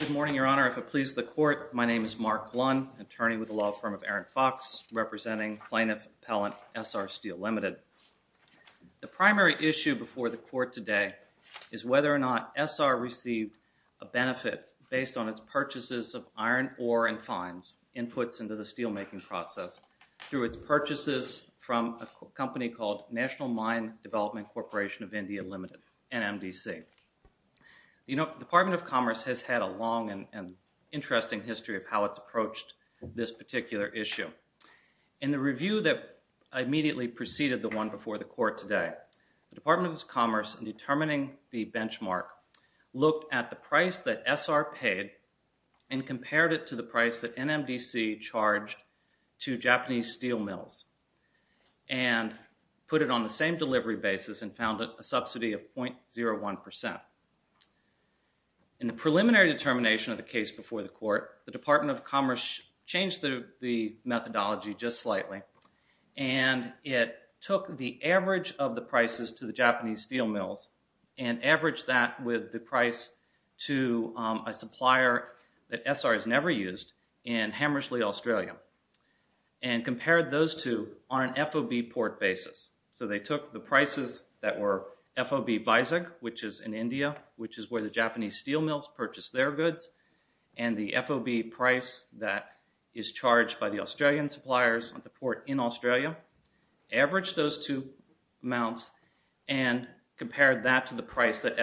Good morning, Your Honor. If it pleases the Court, my name is Mark Blun, attorney with the law firm of Aaron Fox, representing plaintiff appellant SR STEEL Ltd. The primary issue before the Court today is whether or not SR received a benefit based on its purchases of iron, ore, and fines, inputs into the steelmaking process through its purchases from a company called National Mine Development Corporation of India Ltd., NMDC. The Department of Commerce has had a long and interesting history of how it's approached this particular issue. In the review that immediately preceded the one before the Court today, the Department of Commerce, in determining the benchmark, looked at the price that SR paid and compared it to the price that NMDC charged to Japanese steel mills and put it on the same delivery basis and found a subsidy of 0.01%. In the preliminary determination of the case before the Court, the Department of Commerce changed the methodology just slightly and it took the average of the prices to the Japanese steel mills and averaged that with the price to a supplier that SR has never used in Hammersley, Australia, and compared those two on an FOB port basis. So they took the prices that were FOB Vizag, which is in India, which is where the Japanese steel mills purchased their goods, and the FOB price that is charged by the Australian suppliers at the port in Australia, averaged those two amounts, and compared that to the percent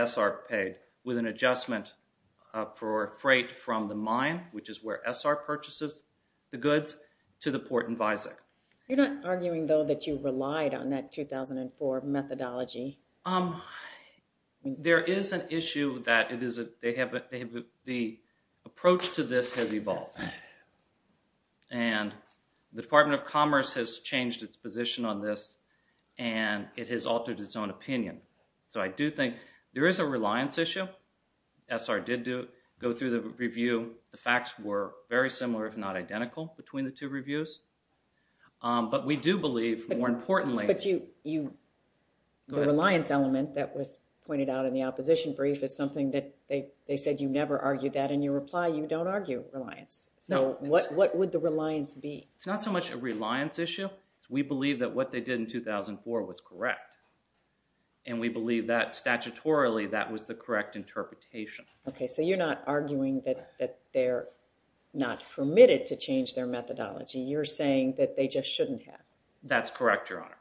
for freight from the mine, which is where SR purchases the goods, to the port in Vizag. You're not arguing, though, that you relied on that 2004 methodology? There is an issue that the approach to this has evolved, and the Department of Commerce has changed its position on this and it has altered its own opinion. So I do think there is a reliance issue. SR did go through the review. The facts were very similar, if not identical, between the two reviews. But we do believe, more importantly- But the reliance element that was pointed out in the opposition brief is something that they said you never argue that, and you reply you don't argue reliance. So what would the reliance be? It's not so much a reliance issue. We believe that what they did in 2004 was correct, and we believe that, statutorily, that was the correct interpretation. Okay, so you're not arguing that they're not permitted to change their methodology. You're saying that they just shouldn't have. That's correct, Your Honor.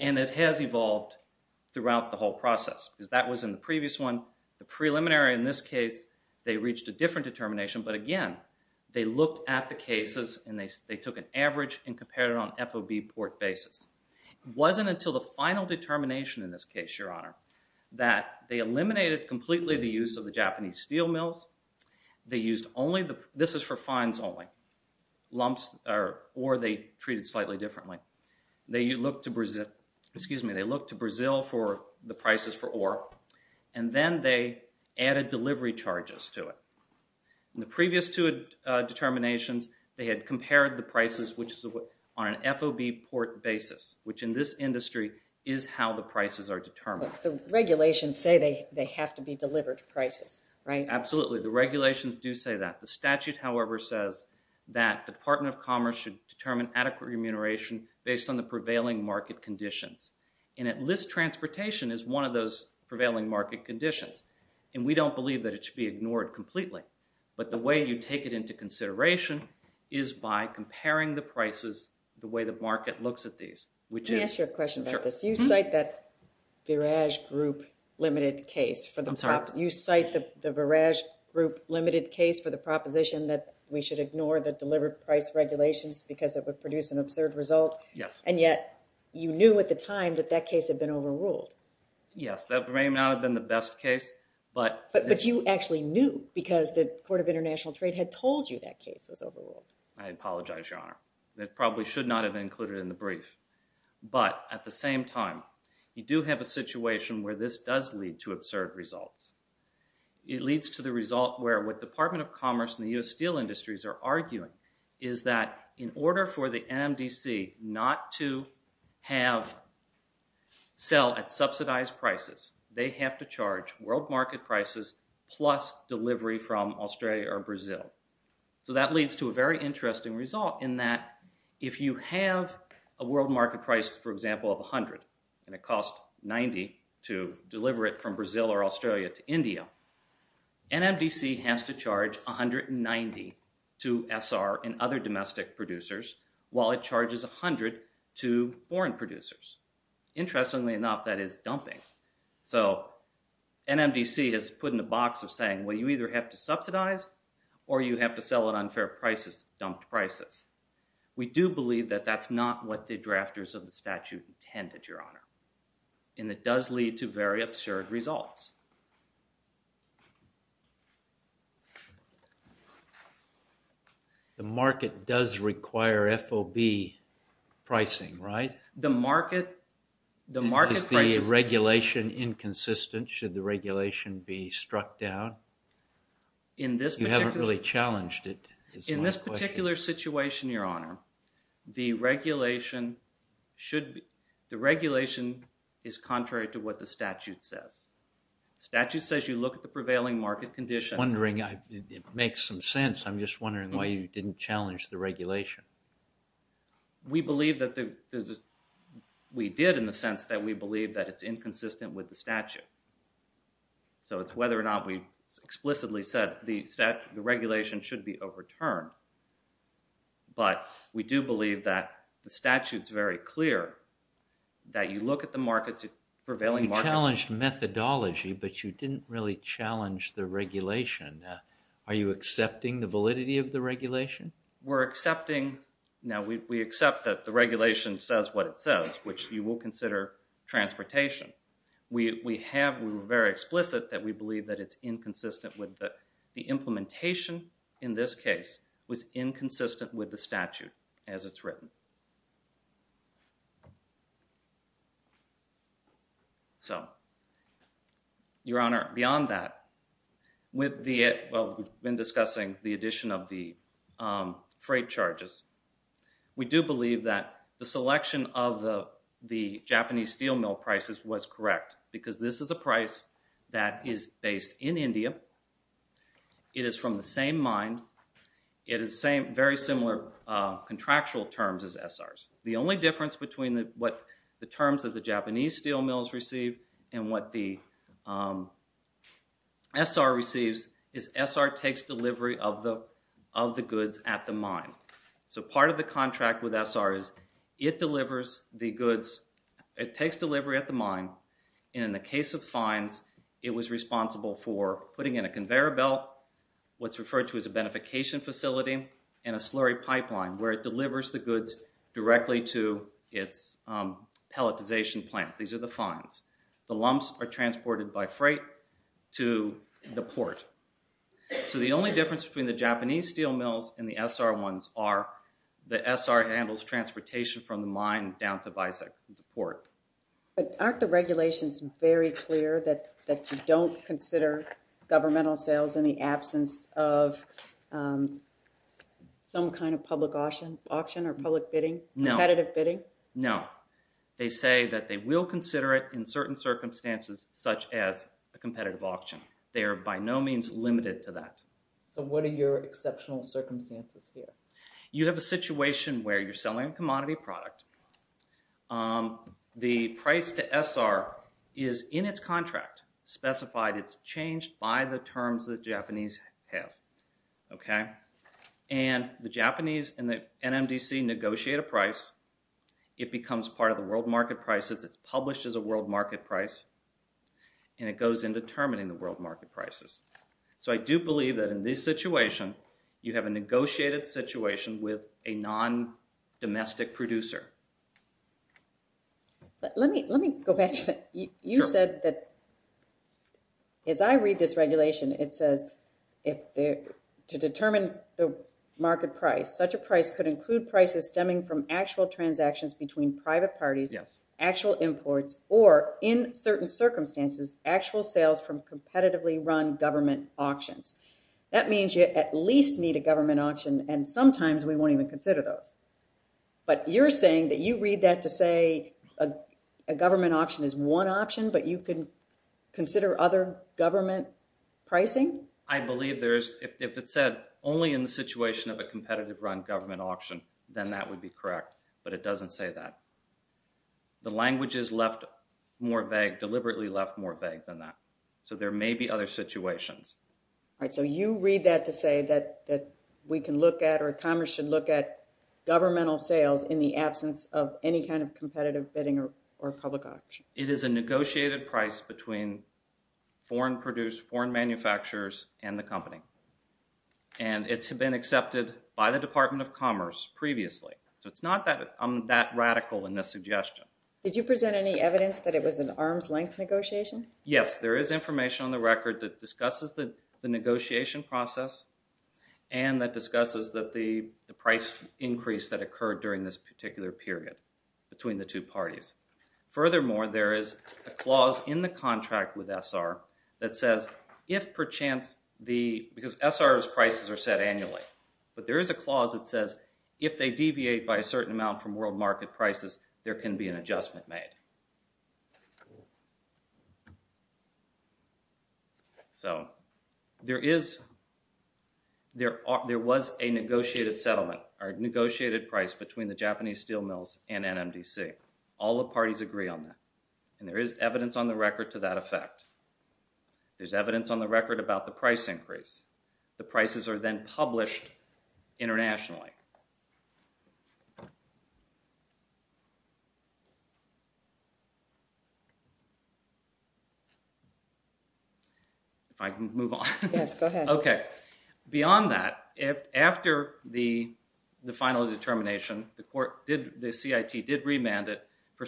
And it has evolved throughout the whole process, because that was in the previous one. The preliminary, in this case, they reached a different determination, but again, they looked at the cases and they took an average and compared it on FOB port basis. It wasn't until the final determination, in this case, Your Honor, that they eliminated completely the use of the Japanese steel mills. They used only- this is for fines only- lumps or ore they treated slightly differently. They looked to Brazil for the prices for ore, and then they added delivery charges to it. In the previous two determinations, they had a FOB port basis, which in this industry is how the prices are determined. The regulations say they have to be delivered prices, right? Absolutely. The regulations do say that. The statute, however, says that the Department of Commerce should determine adequate remuneration based on the prevailing market conditions. And at least transportation is one of those prevailing market conditions, and we don't believe that it should be ignored completely. But the way you take it into consideration is by comparing the prices the way the market looks at these, which is- Let me ask you a question about this. You cite that Viraj Group limited case for the- I'm sorry. You cite the Viraj Group limited case for the proposition that we should ignore the delivered price regulations because it would produce an absurd result, and yet you knew at the time that that case had been overruled. Yes, that may not have been the best case, but- But you actually knew because the Court of International Trade had told you that case was overruled. I apologize, Your Honor. That probably should not have been included in the brief. But at the same time, you do have a situation where this does lead to absurd results. It leads to the result where what Department of Commerce and the U.S. Steel Industries are arguing is that in order for the NMDC not to have- sell at subsidized prices, they have to charge world market prices plus delivery from Australia or Brazil. So that leads to a very interesting result in that if you have a world market price, for example, of $100 and it costs $90 to deliver it from Brazil or Australia to India, NMDC has to charge $190 to SR and other domestic producers, while it charges $100 to foreign producers. Interestingly enough, that is dumping. So NMDC has put in the box of saying, well, you either have to subsidize or you have to sell at unfair prices, dumped prices. We do believe that that's not what the drafters of the statute intended, Your Honor. And it does lead to very absurd results. The market does require FOB pricing, right? Is the regulation inconsistent? Should the regulation be struck down? You haven't really challenged it, is my question. In this particular situation, Your Honor, the regulation should- the regulation is contrary to what the statute says. The statute says you look at the prevailing market conditions. It makes some sense. I'm just wondering why you didn't challenge the regulation. We believe that the- we did in the sense that we believe that it's inconsistent with the statute. So it's whether or not we explicitly said the regulation should be overturned. But we do believe that the statute's very clear, that you look at the markets- prevailing markets- You challenged methodology, but you didn't really challenge the regulation. Are you accepting the validity of the regulation? We're accepting- now, we accept that the regulation says what it says, which you will consider transportation. We have- we were very explicit that we believe that it's inconsistent with the- the implementation in this case was inconsistent with the statute as it's written. So, Your Honor, beyond that, with the- well, we've been discussing the addition of the freight charges. We do believe that the selection of the Japanese steel mill prices was correct because this is a price that is based in India. It is from the same mine. It is same- very similar contractual terms as SRs. The only difference between what the terms of the Japanese steel mills receive and what the SR receives is SR takes delivery of the- of the goods at the mine. So part of the contract with SR is it delivers the goods- it takes delivery at the mine, and in the case of fines, it was responsible for putting in a conveyor belt, what's referred to as a beneficiation facility, and a slurry pipeline, where it to the fines. The lumps are transported by freight to the port. So the only difference between the Japanese steel mills and the SR ones are the SR handles transportation from the mine down to the port. But aren't the regulations very clear that- that you don't consider governmental sales in the absence of some kind of public auction or public bidding? No. Competitive bidding? No. They say that they will consider it in certain circumstances such as a competitive auction. They are by no means limited to that. So what are your exceptional circumstances here? You have a situation where you're selling a commodity product. The price to SR is in its contract specified. It's changed by the terms the price. It becomes part of the world market prices. It's published as a world market price, and it goes into determining the world market prices. So I do believe that in this situation, you have a negotiated situation with a non-domestic producer. Let me- let me go back to that. You said that- as I read this regulation, it says if the- to determine the market price, such a price could include prices stemming from actual transactions between private parties, actual imports, or in certain circumstances, actual sales from competitively run government auctions. That means you at least need a government auction, and sometimes we won't even consider those. But you're saying that you read that to say a- a government auction is one option, but you can consider other government pricing? I believe there is- if it said only in the situation of a competitive run government auction, then that would be correct, but it doesn't say that. The language is left more vague- deliberately left more vague than that. So there may be other situations. All right, so you read that to say that- that we can look at or Congress should look at governmental sales in the absence of any kind of competitive bidding or- or public auction. It is a negotiated price between foreign produced- foreign manufacturers and the company. And it's been accepted by the Department of Commerce previously. So it's not that- I'm that radical in this suggestion. Did you present any evidence that it was an arm's length negotiation? Yes, there is information on the record that discusses the- the negotiation process, and that discusses that the- the price increase that occurred during this particular period between the two parties. Furthermore, there is a clause in the contract with SR that says if perchance the- because SR's prices are set annually, but there is a clause that says if they deviate by a certain amount from world market prices, there can be an adjustment made. So there is- there- there was a negotiated settlement or negotiated price between the Japanese steel mills and NMDC. All the parties agree on that. And there is evidence on the record to that effect. There's evidence on the record about the price increase. The prices are then published internationally. If I can move on. Yes, go ahead. Okay. Beyond that, if- after the- the final determination, the court did- the CIT did remand it for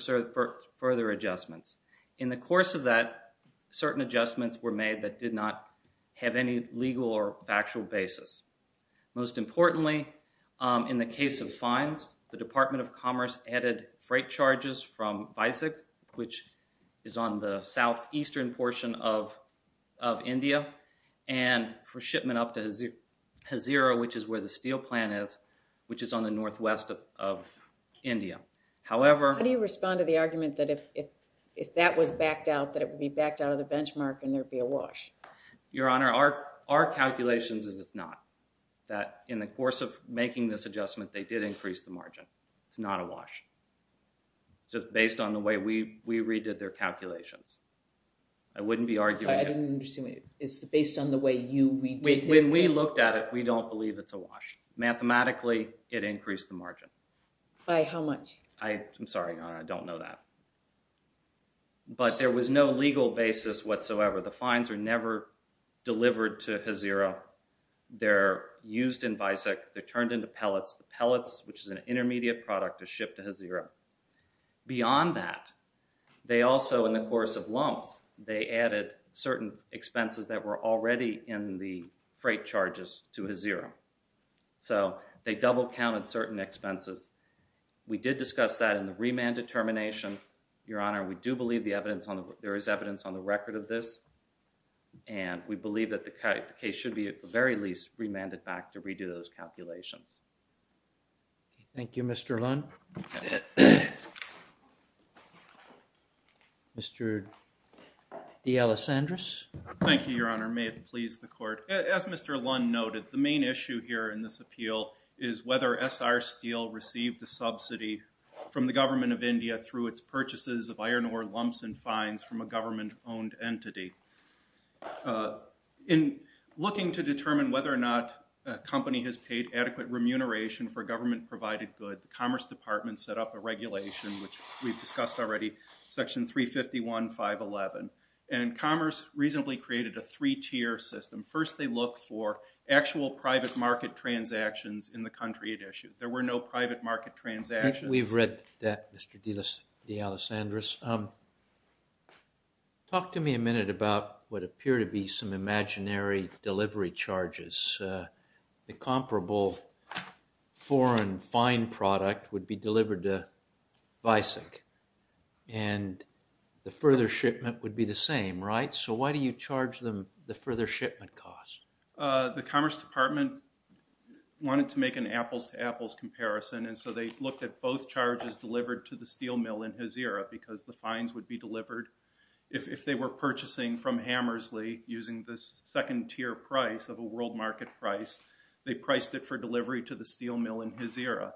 further adjustments. In the course of that, certain adjustments were made that did not have any legal or factual basis. Most importantly, in the case of fines, the Department of Commerce added freight charges from BICIC, which is on the southeastern portion of- of India, and for shipment up to Hazira, which is where the steel plant is, which is on the northwest of- of India. However- How do you respond to the argument that if- if- if that was backed out, that it would be backed out of the benchmark and there would be a wash? Your Honor, our- our calculations is it's not. That in the course of making this adjustment, they did increase the margin. It's not a wash. Just based on the way we- we redid their calculations. I wouldn't be arguing- I didn't understand the question. It's based on the way you- we did- When we looked at it, we don't believe it's a wash. Mathematically, it increased the margin. By how much? I- I'm sorry, Your Honor. I don't know that. But there was no legal basis whatsoever. The fines are never delivered to Hazira. They're used in BICIC. They're turned into pellets. The pellets, which is an intermediate product, is shipped to Hazira. Beyond that, they also, in the course of lumps, they added certain expenses that were already in the freight charges to Hazira. So, they double counted certain expenses. We did discuss that in the remand determination. Your Honor, we do believe the evidence on the- there is evidence on the record of this. And we believe that the case should be, at the very least, remanded back to redo those calculations. Thank you, Mr. Lund. Mr. D. Alessandris. Thank you, Your Honor. May it please the court. As Mr. Lund noted, the main issue here in this appeal is whether SR Steel received the subsidy from the government of India through its purchases of iron ore lumps and fines from a government-owned entity. In looking to determine whether or not a company has paid adequate remuneration for government provided good, the Commerce Department set up a regulation, which we've discussed already, Section 351, 511. And Commerce reasonably created a three-tier system. First, they looked for actual private market transactions in the country it issued. There were no private market transactions. We've read that, Mr. D. Alessandris. Talk to me a minute about what appear to be some imaginary delivery charges. The comparable foreign fine product would be delivered to Visek, and the further shipment would be the same, right? So why do you charge them the further shipment cost? The Commerce Department wanted to make an apples-to-apples comparison, and so they looked at both charges delivered to the steel mill in Hezira, because the fines would be delivered if they were purchasing from Hammersley using this second-tier price of a world market price. They priced it for delivery to the steel mill in Hezira.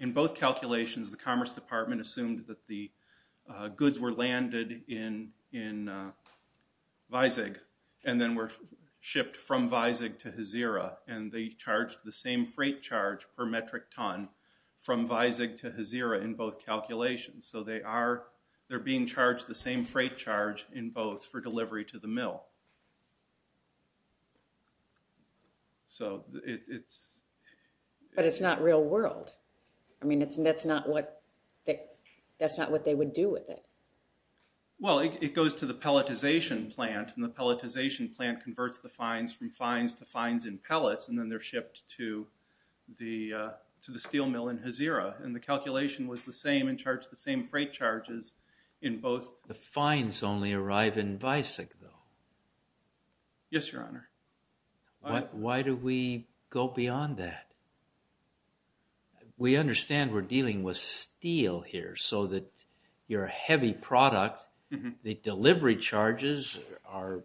In both calculations, the Commerce Department assumed that the goods were landed in Visek and then were shipped from Visek to Hezira, and they charged the same freight charge per metric ton from Visek to Hezira in both calculations. So they're being charged the same freight charge in both for delivery to the mill. But it's not real world. That's not what they would do with it. Well, it goes to the pelletization plant, and the pelletization plant converts the fines from fines to fines in pellets, and then they're shipped to the steel mill in Hezira, and the calculation was the same and charged the same freight charges in both. The fines only arrive in Visek, though. Yes, Your Honor. Why do we go beyond that? We understand we're dealing with steel here, so that you're a heavy product. The delivery charges are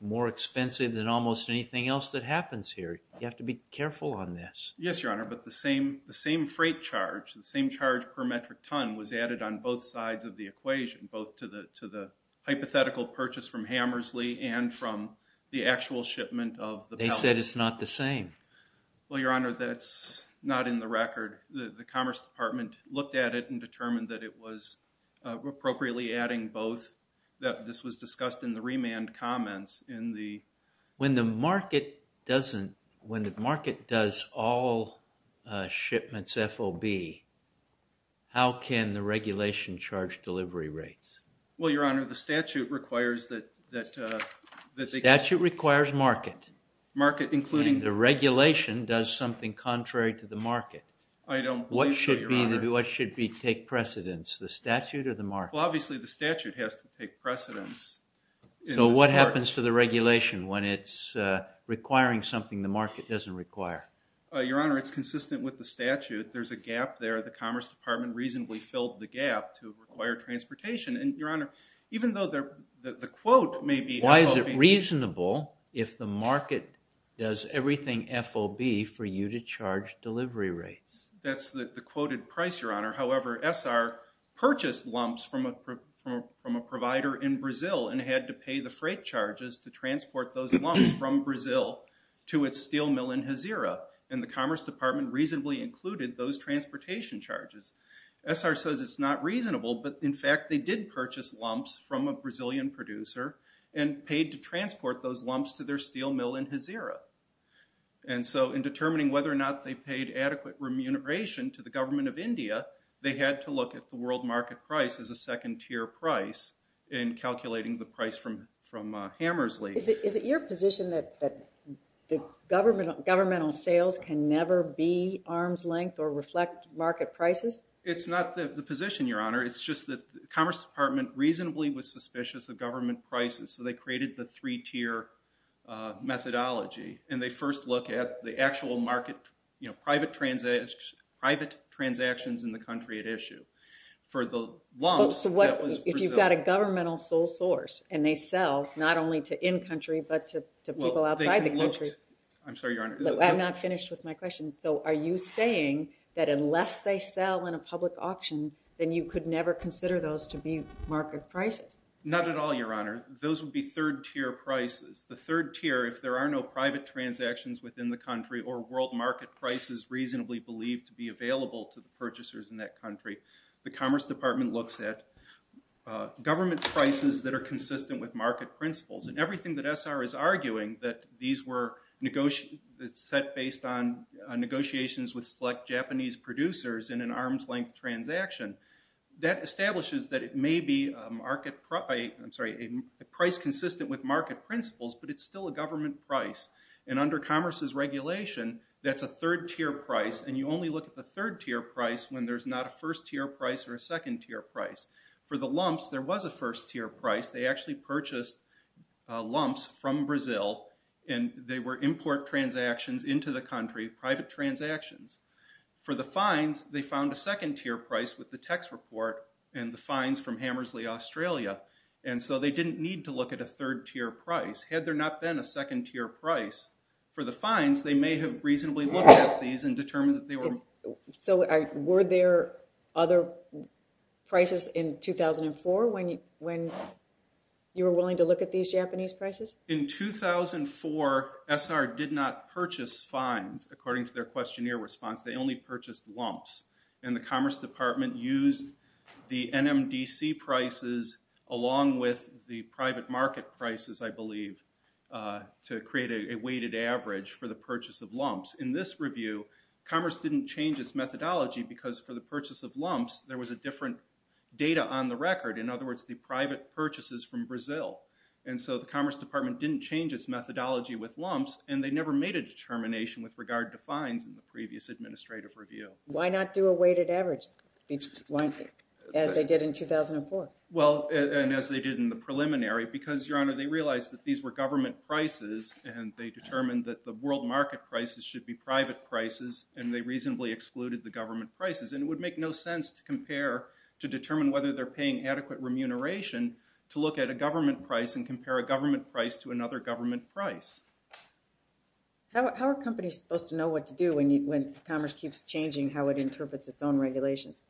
more expensive than almost anything else that happens here. You have to be careful on this. Yes, Your Honor, but the same freight charge, the same charge per metric ton was added on both sides of the equation, both to the hypothetical purchase from Hammersley and from the actual shipment of the pellets. They said it's not the same. Well, Your Honor, that's not in the record. The Commerce Department looked at it and determined that it was appropriately adding both. This was discussed in the remand comments in the... When the market does all shipments FOB, how can the regulation charge delivery rates? Well, Your Honor, the statute requires that... The statute requires market. Market including... And the regulation does something contrary to the market. I don't believe so, Your Honor. What should take precedence, the statute or the market? Well, obviously the statute has to take precedence. So what happens to the regulation when it's requiring something the market doesn't require? Your Honor, it's consistent with the statute. There's a gap there. The Commerce Department reasonably filled the gap to require transportation. And, Your Honor, even though the quote may be... Why is it reasonable if the market does everything FOB for you to charge delivery rates? That's the quoted price, Your Honor. However, SR purchased lumps from a provider in Brazil and had to pay the freight charges to transport those lumps from Brazil to its steel mill in Hezira. And the Commerce Department reasonably included those transportation charges. SR says it's not reasonable, but in fact, they did purchase lumps from a Brazilian producer and paid to transport those lumps to their steel mill in Hezira. And so in determining whether or not they paid adequate remuneration to the government of India, they had to look at the world market price as a second tier price in calculating the price from Hammersley. Is it your position that governmental sales can never be arm's length or reflect market prices? It's not the position, Your Honor. It's just that the Commerce Department reasonably was suspicious of government prices, so they private transactions in the country at issue. For the lumps, that was Brazil. So if you've got a governmental sole source and they sell not only to in-country but to people outside the country... I'm sorry, Your Honor. I'm not finished with my question. So are you saying that unless they sell in a public auction, then you could never consider those to be market prices? Not at all, Your Honor. Those would be third tier prices. The third tier, if there are no market prices reasonably believed to be available to the purchasers in that country, the Commerce Department looks at government prices that are consistent with market principles. And everything that SR is arguing that these were set based on negotiations with select Japanese producers in an arm's length transaction, that establishes that it may be a price consistent with market principles, but it's still a government price. And under Commerce's regulation, that's a third tier price, and you only look at the third tier price when there's not a first tier price or a second tier price. For the lumps, there was a first tier price. They actually purchased lumps from Brazil, and they were import transactions into the country, private transactions. For the fines, they found a second tier price with the text report and the fines from Hammersley, Australia. And so they didn't need to look at a third tier price. Had there not been a second tier price for the fines, they may have reasonably looked at these and determined that they were... So were there other prices in 2004 when you were willing to look at these Japanese prices? In 2004, SR did not purchase fines, according to their questionnaire response. They only purchased lumps. And the Commerce Department used the NMDC prices along with the private market prices, I believe, to create a weighted average for the purchase of lumps. In this review, Commerce didn't change its methodology because for the purchase of lumps, there was a different data on the record. In other words, the private purchases from Brazil. And so the Commerce Department didn't change its methodology with lumps, and they never made a as they did in 2004. Well, and as they did in the preliminary, because, Your Honor, they realized that these were government prices, and they determined that the world market prices should be private prices, and they reasonably excluded the government prices. And it would make no sense to compare, to determine whether they're paying adequate remuneration to look at a government price and compare a government price to another government price. How are companies supposed to know what to do when Commerce keeps changing how it interprets its own regulations?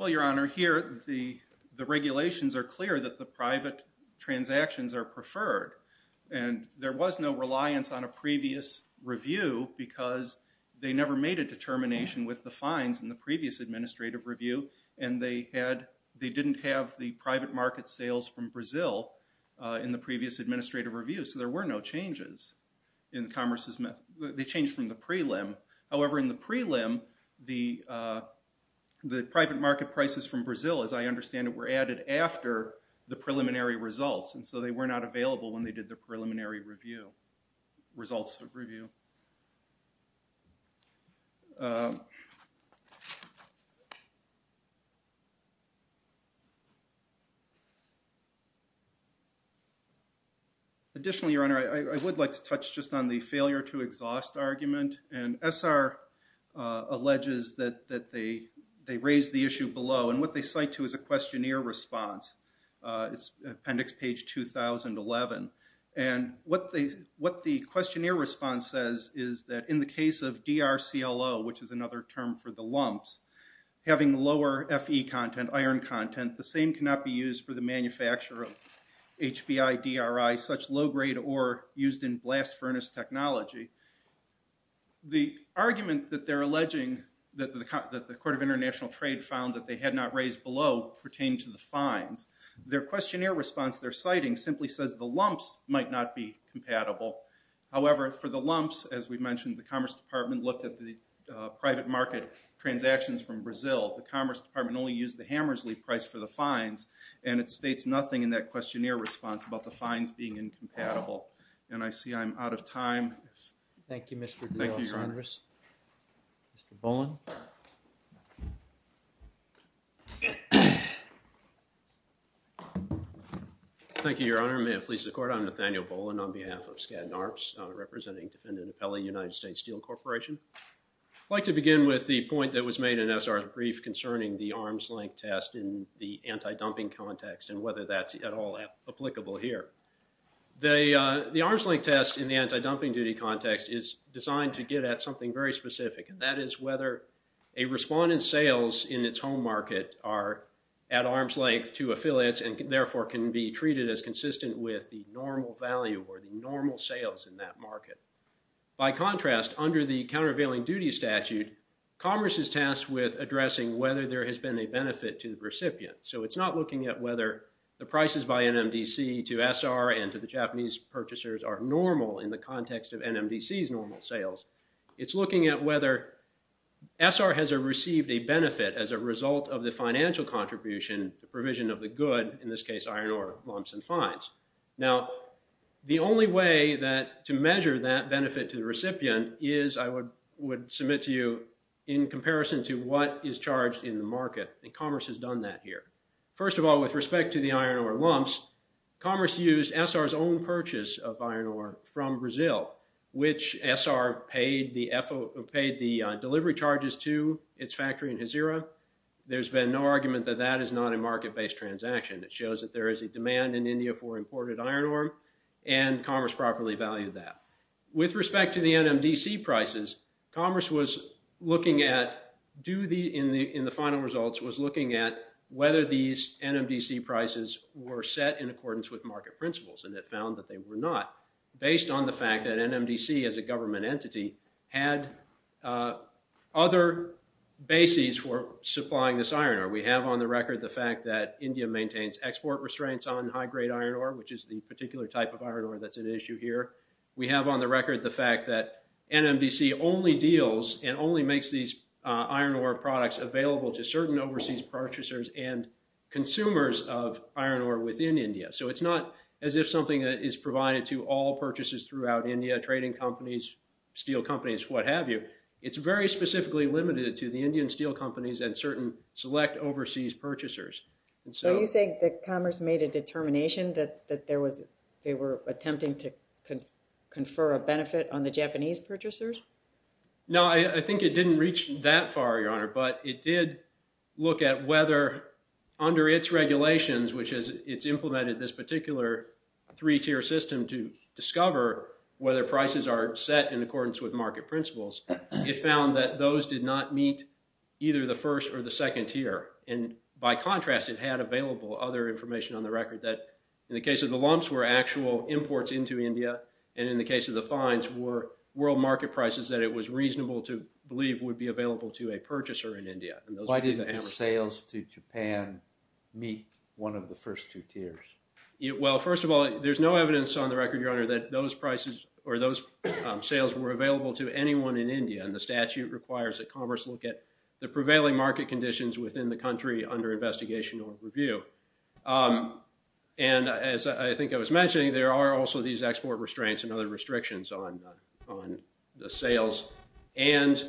Well, Your Honor, here the regulations are clear that the private transactions are preferred. And there was no reliance on a previous review because they never made a determination with the fines in the previous administrative review, and they didn't have the private market sales from Brazil in the previous administrative review, so there were no changes. They changed from the prelim. However, in the prelim, the private market prices from Brazil, as I understand it, were added after the preliminary results, and so they were not available when they did the preliminary review. Results of review. Additionally, Your Honor, I would like to touch just on the failure to exhaust argument, and SR alleges that they raised the issue below, and what they cite to is a What the questionnaire response says is that in the case of DRCLO, which is another term for the lumps, having lower FE content, iron content, the same cannot be used for the manufacture of HBI-DRI, such low-grade ore used in blast furnace technology. The argument that they're alleging, that the Court of International Trade found that they had not raised below pertained to the fines. Their questionnaire response, their citing simply says the lumps might not be compatible. However, for the lumps, as we mentioned, the Commerce Department looked at the private market transactions from Brazil. The Commerce Department only used the Hammersley price for the fines, and it states nothing in that questionnaire response about the fines being incompatible, and I see I'm out of time. Thank you, Mr. De Los Angeles. Mr. Boland. Thank you, Your Honor. May it please the Court, I'm Nathaniel Boland on behalf of Skadden Arts, representing defendant Appelli, United States Steel Corporation. I'd like to begin with the point that was made in SR's brief concerning the arm's length test in the anti-dumping duty context is designed to get at something very specific, and that is whether a respondent's sales in its home market are at arm's length to affiliates and therefore can be treated as consistent with the normal value or the normal sales in that market. By contrast, under the countervailing duty statute, Commerce is tasked with addressing whether there has been a benefit to the recipient. So it's not looking at whether the prices by NMDC to SR and to the Japanese purchasers are normal in the context of NMDC's normal sales. It's looking at whether SR has received a benefit as a result of the financial contribution, the provision of the good, in this case iron ore lumps and fines. Now, the only way to measure that benefit to the recipient is, I would submit to you, in comparison to what is charged in the market, and Commerce has done that here. First of all, with respect to the iron ore lumps, Commerce used SR's own purchase of iron ore from Brazil, which SR paid the delivery charges to its factory in Hazira. There's been no argument that that is not a market-based transaction. It shows that there is a demand in NMDC prices. Commerce, in the final results, was looking at whether these NMDC prices were set in accordance with market principles, and it found that they were not, based on the fact that NMDC, as a government entity, had other bases for supplying this iron ore. We have on the record the fact that India maintains export restraints on high-grade iron ore, which is the particular type of iron ore that's an issue here. We have on the record the fact that NMDC only deals and only makes these iron ore products available to certain overseas purchasers and consumers of iron ore within India. So it's not as if something is provided to all purchases throughout India, trading companies, steel companies, what have you. It's very specifically limited to the Indian steel companies and certain select overseas purchasers. So you're saying that Commerce made a determination that they were attempting to confer a benefit on the Japanese purchasers? No, I think it didn't reach that far, Your Honor, but it did look at whether, under its regulations, which is, it's implemented this particular three-tier system to discover whether prices are set in accordance with market principles, it found that those did not meet either the first or the second tier. And by contrast, it had available other information on the record that, in the case of the lumps, were actual imports into India, and in the case of the fines, were world market prices that it was reasonable to believe would be available to a purchaser in India. Why didn't the sales to Japan meet one of the first two tiers? Well, first of all, there's no evidence on the record, Your Honor, that those sales were available to anyone in India and the statute requires that Commerce look at the prevailing market conditions within the country under investigation or review. And as I think I was mentioning, there are also these export restraints and other sales, and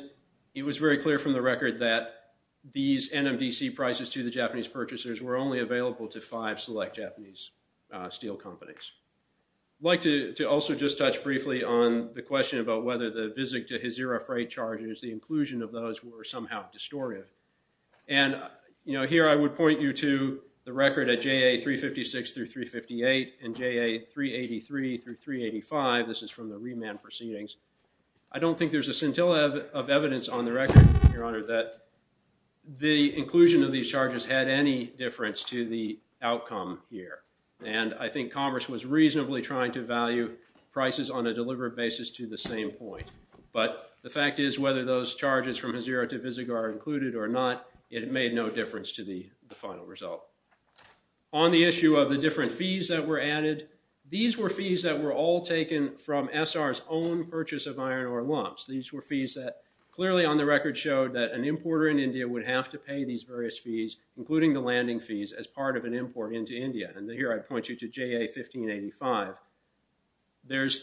it was very clear from the record that these NMDC prices to the Japanese purchasers were only available to five select Japanese steel companies. I'd like to also just touch briefly on the question about whether the Visig to Hazira freight charges, the inclusion of those, were somehow distortive. And, you know, here I would point you to the record at JA356 through 358 and JA383 through 385. This is from the remand proceedings. I don't think there's a scintilla of evidence on the record, Your Honor, that the inclusion of these charges had any difference to the outcome here. And I think Commerce was reasonably trying to value prices on a deliberate basis to the same point. But the fact is, whether those charges from on the issue of the different fees that were added, these were fees that were all taken from SR's own purchase of iron ore lumps. These were fees that clearly on the record showed that an importer in India would have to pay these various fees, including the landing fees, as part of an import into India. And here I point you to JA1585. There's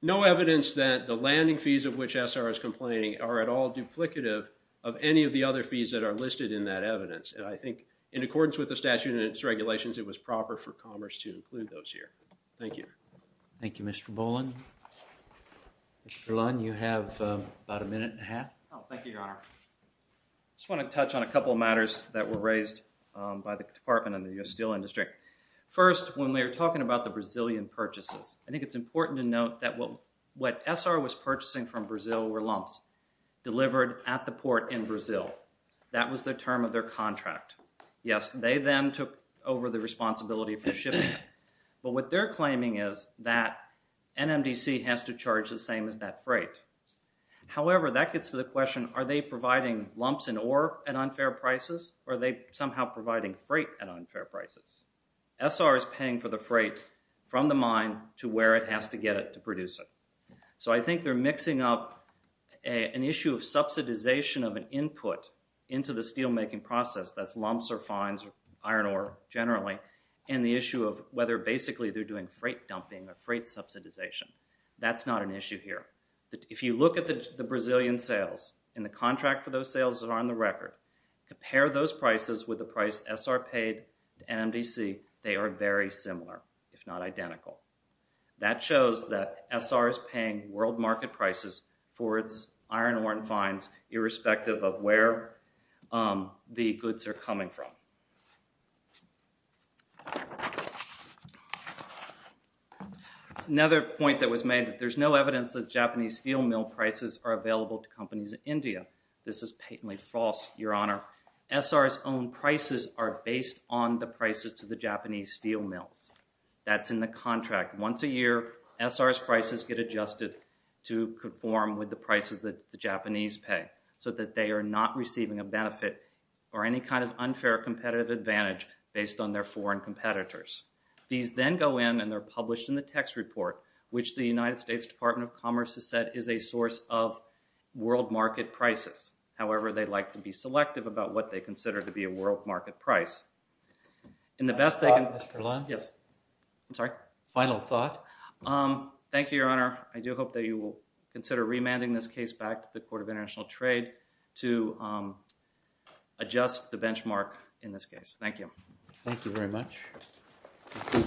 no evidence that the landing fees of which SR is complaining are at all duplicative of any of the other fees that are listed in that evidence. And I think in accordance with the statute and its regulations, it was proper for Commerce to include those here. Thank you. Thank you, Mr. Boland. Mr. Lunn, you have about a minute and a half. Oh, thank you, Your Honor. I just want to touch on a couple of matters that were raised by the Department of the Steel Industry. First, when we were talking about the Brazilian purchases, I think it's important to note that what SR was purchasing from Brazil were lumps delivered at the port in Brazil. That was the term of their contract. Yes, they then took over the responsibility for shipping. But what they're claiming is that NMDC has to charge the same as that freight. However, that gets to the question, are they providing lumps in ore at the port from the mine to where it has to get it to produce it? So I think they're mixing up an issue of subsidization of an input into the steelmaking process, that's lumps or fines or iron ore generally, and the issue of whether basically they're doing freight dumping or freight subsidization. That's not an issue here. If you look at the Brazilian sales and the contract for those sales that are on the record, compare those prices with the price SR paid to NMDC, they are very similar, if not identical. That shows that SR is paying world market prices for its iron ore and fines, irrespective of where the goods are coming from. Another point that was made, there's no evidence that Japanese steel mill prices are available to companies in India. This is patently false, your honor. SR's own prices are based on the prices to the Japanese steel mills. That's in the contract. Once a year, SR's prices get adjusted to conform with the prices that the Japanese pay, so that they are not receiving a benefit or any kind of unfair competitive advantage based on their foreign competitors. These then go in and they're published in the text report, which the United States Department of Commerce has said is a source of world market prices. However, they like to be selective about what they consider to be a world market price. Final thought? Thank you, your honor. I do hope that you will consider remanding this case back to the Court of International Trade to adjust the benchmark in this case. Thank you. Thank you very much.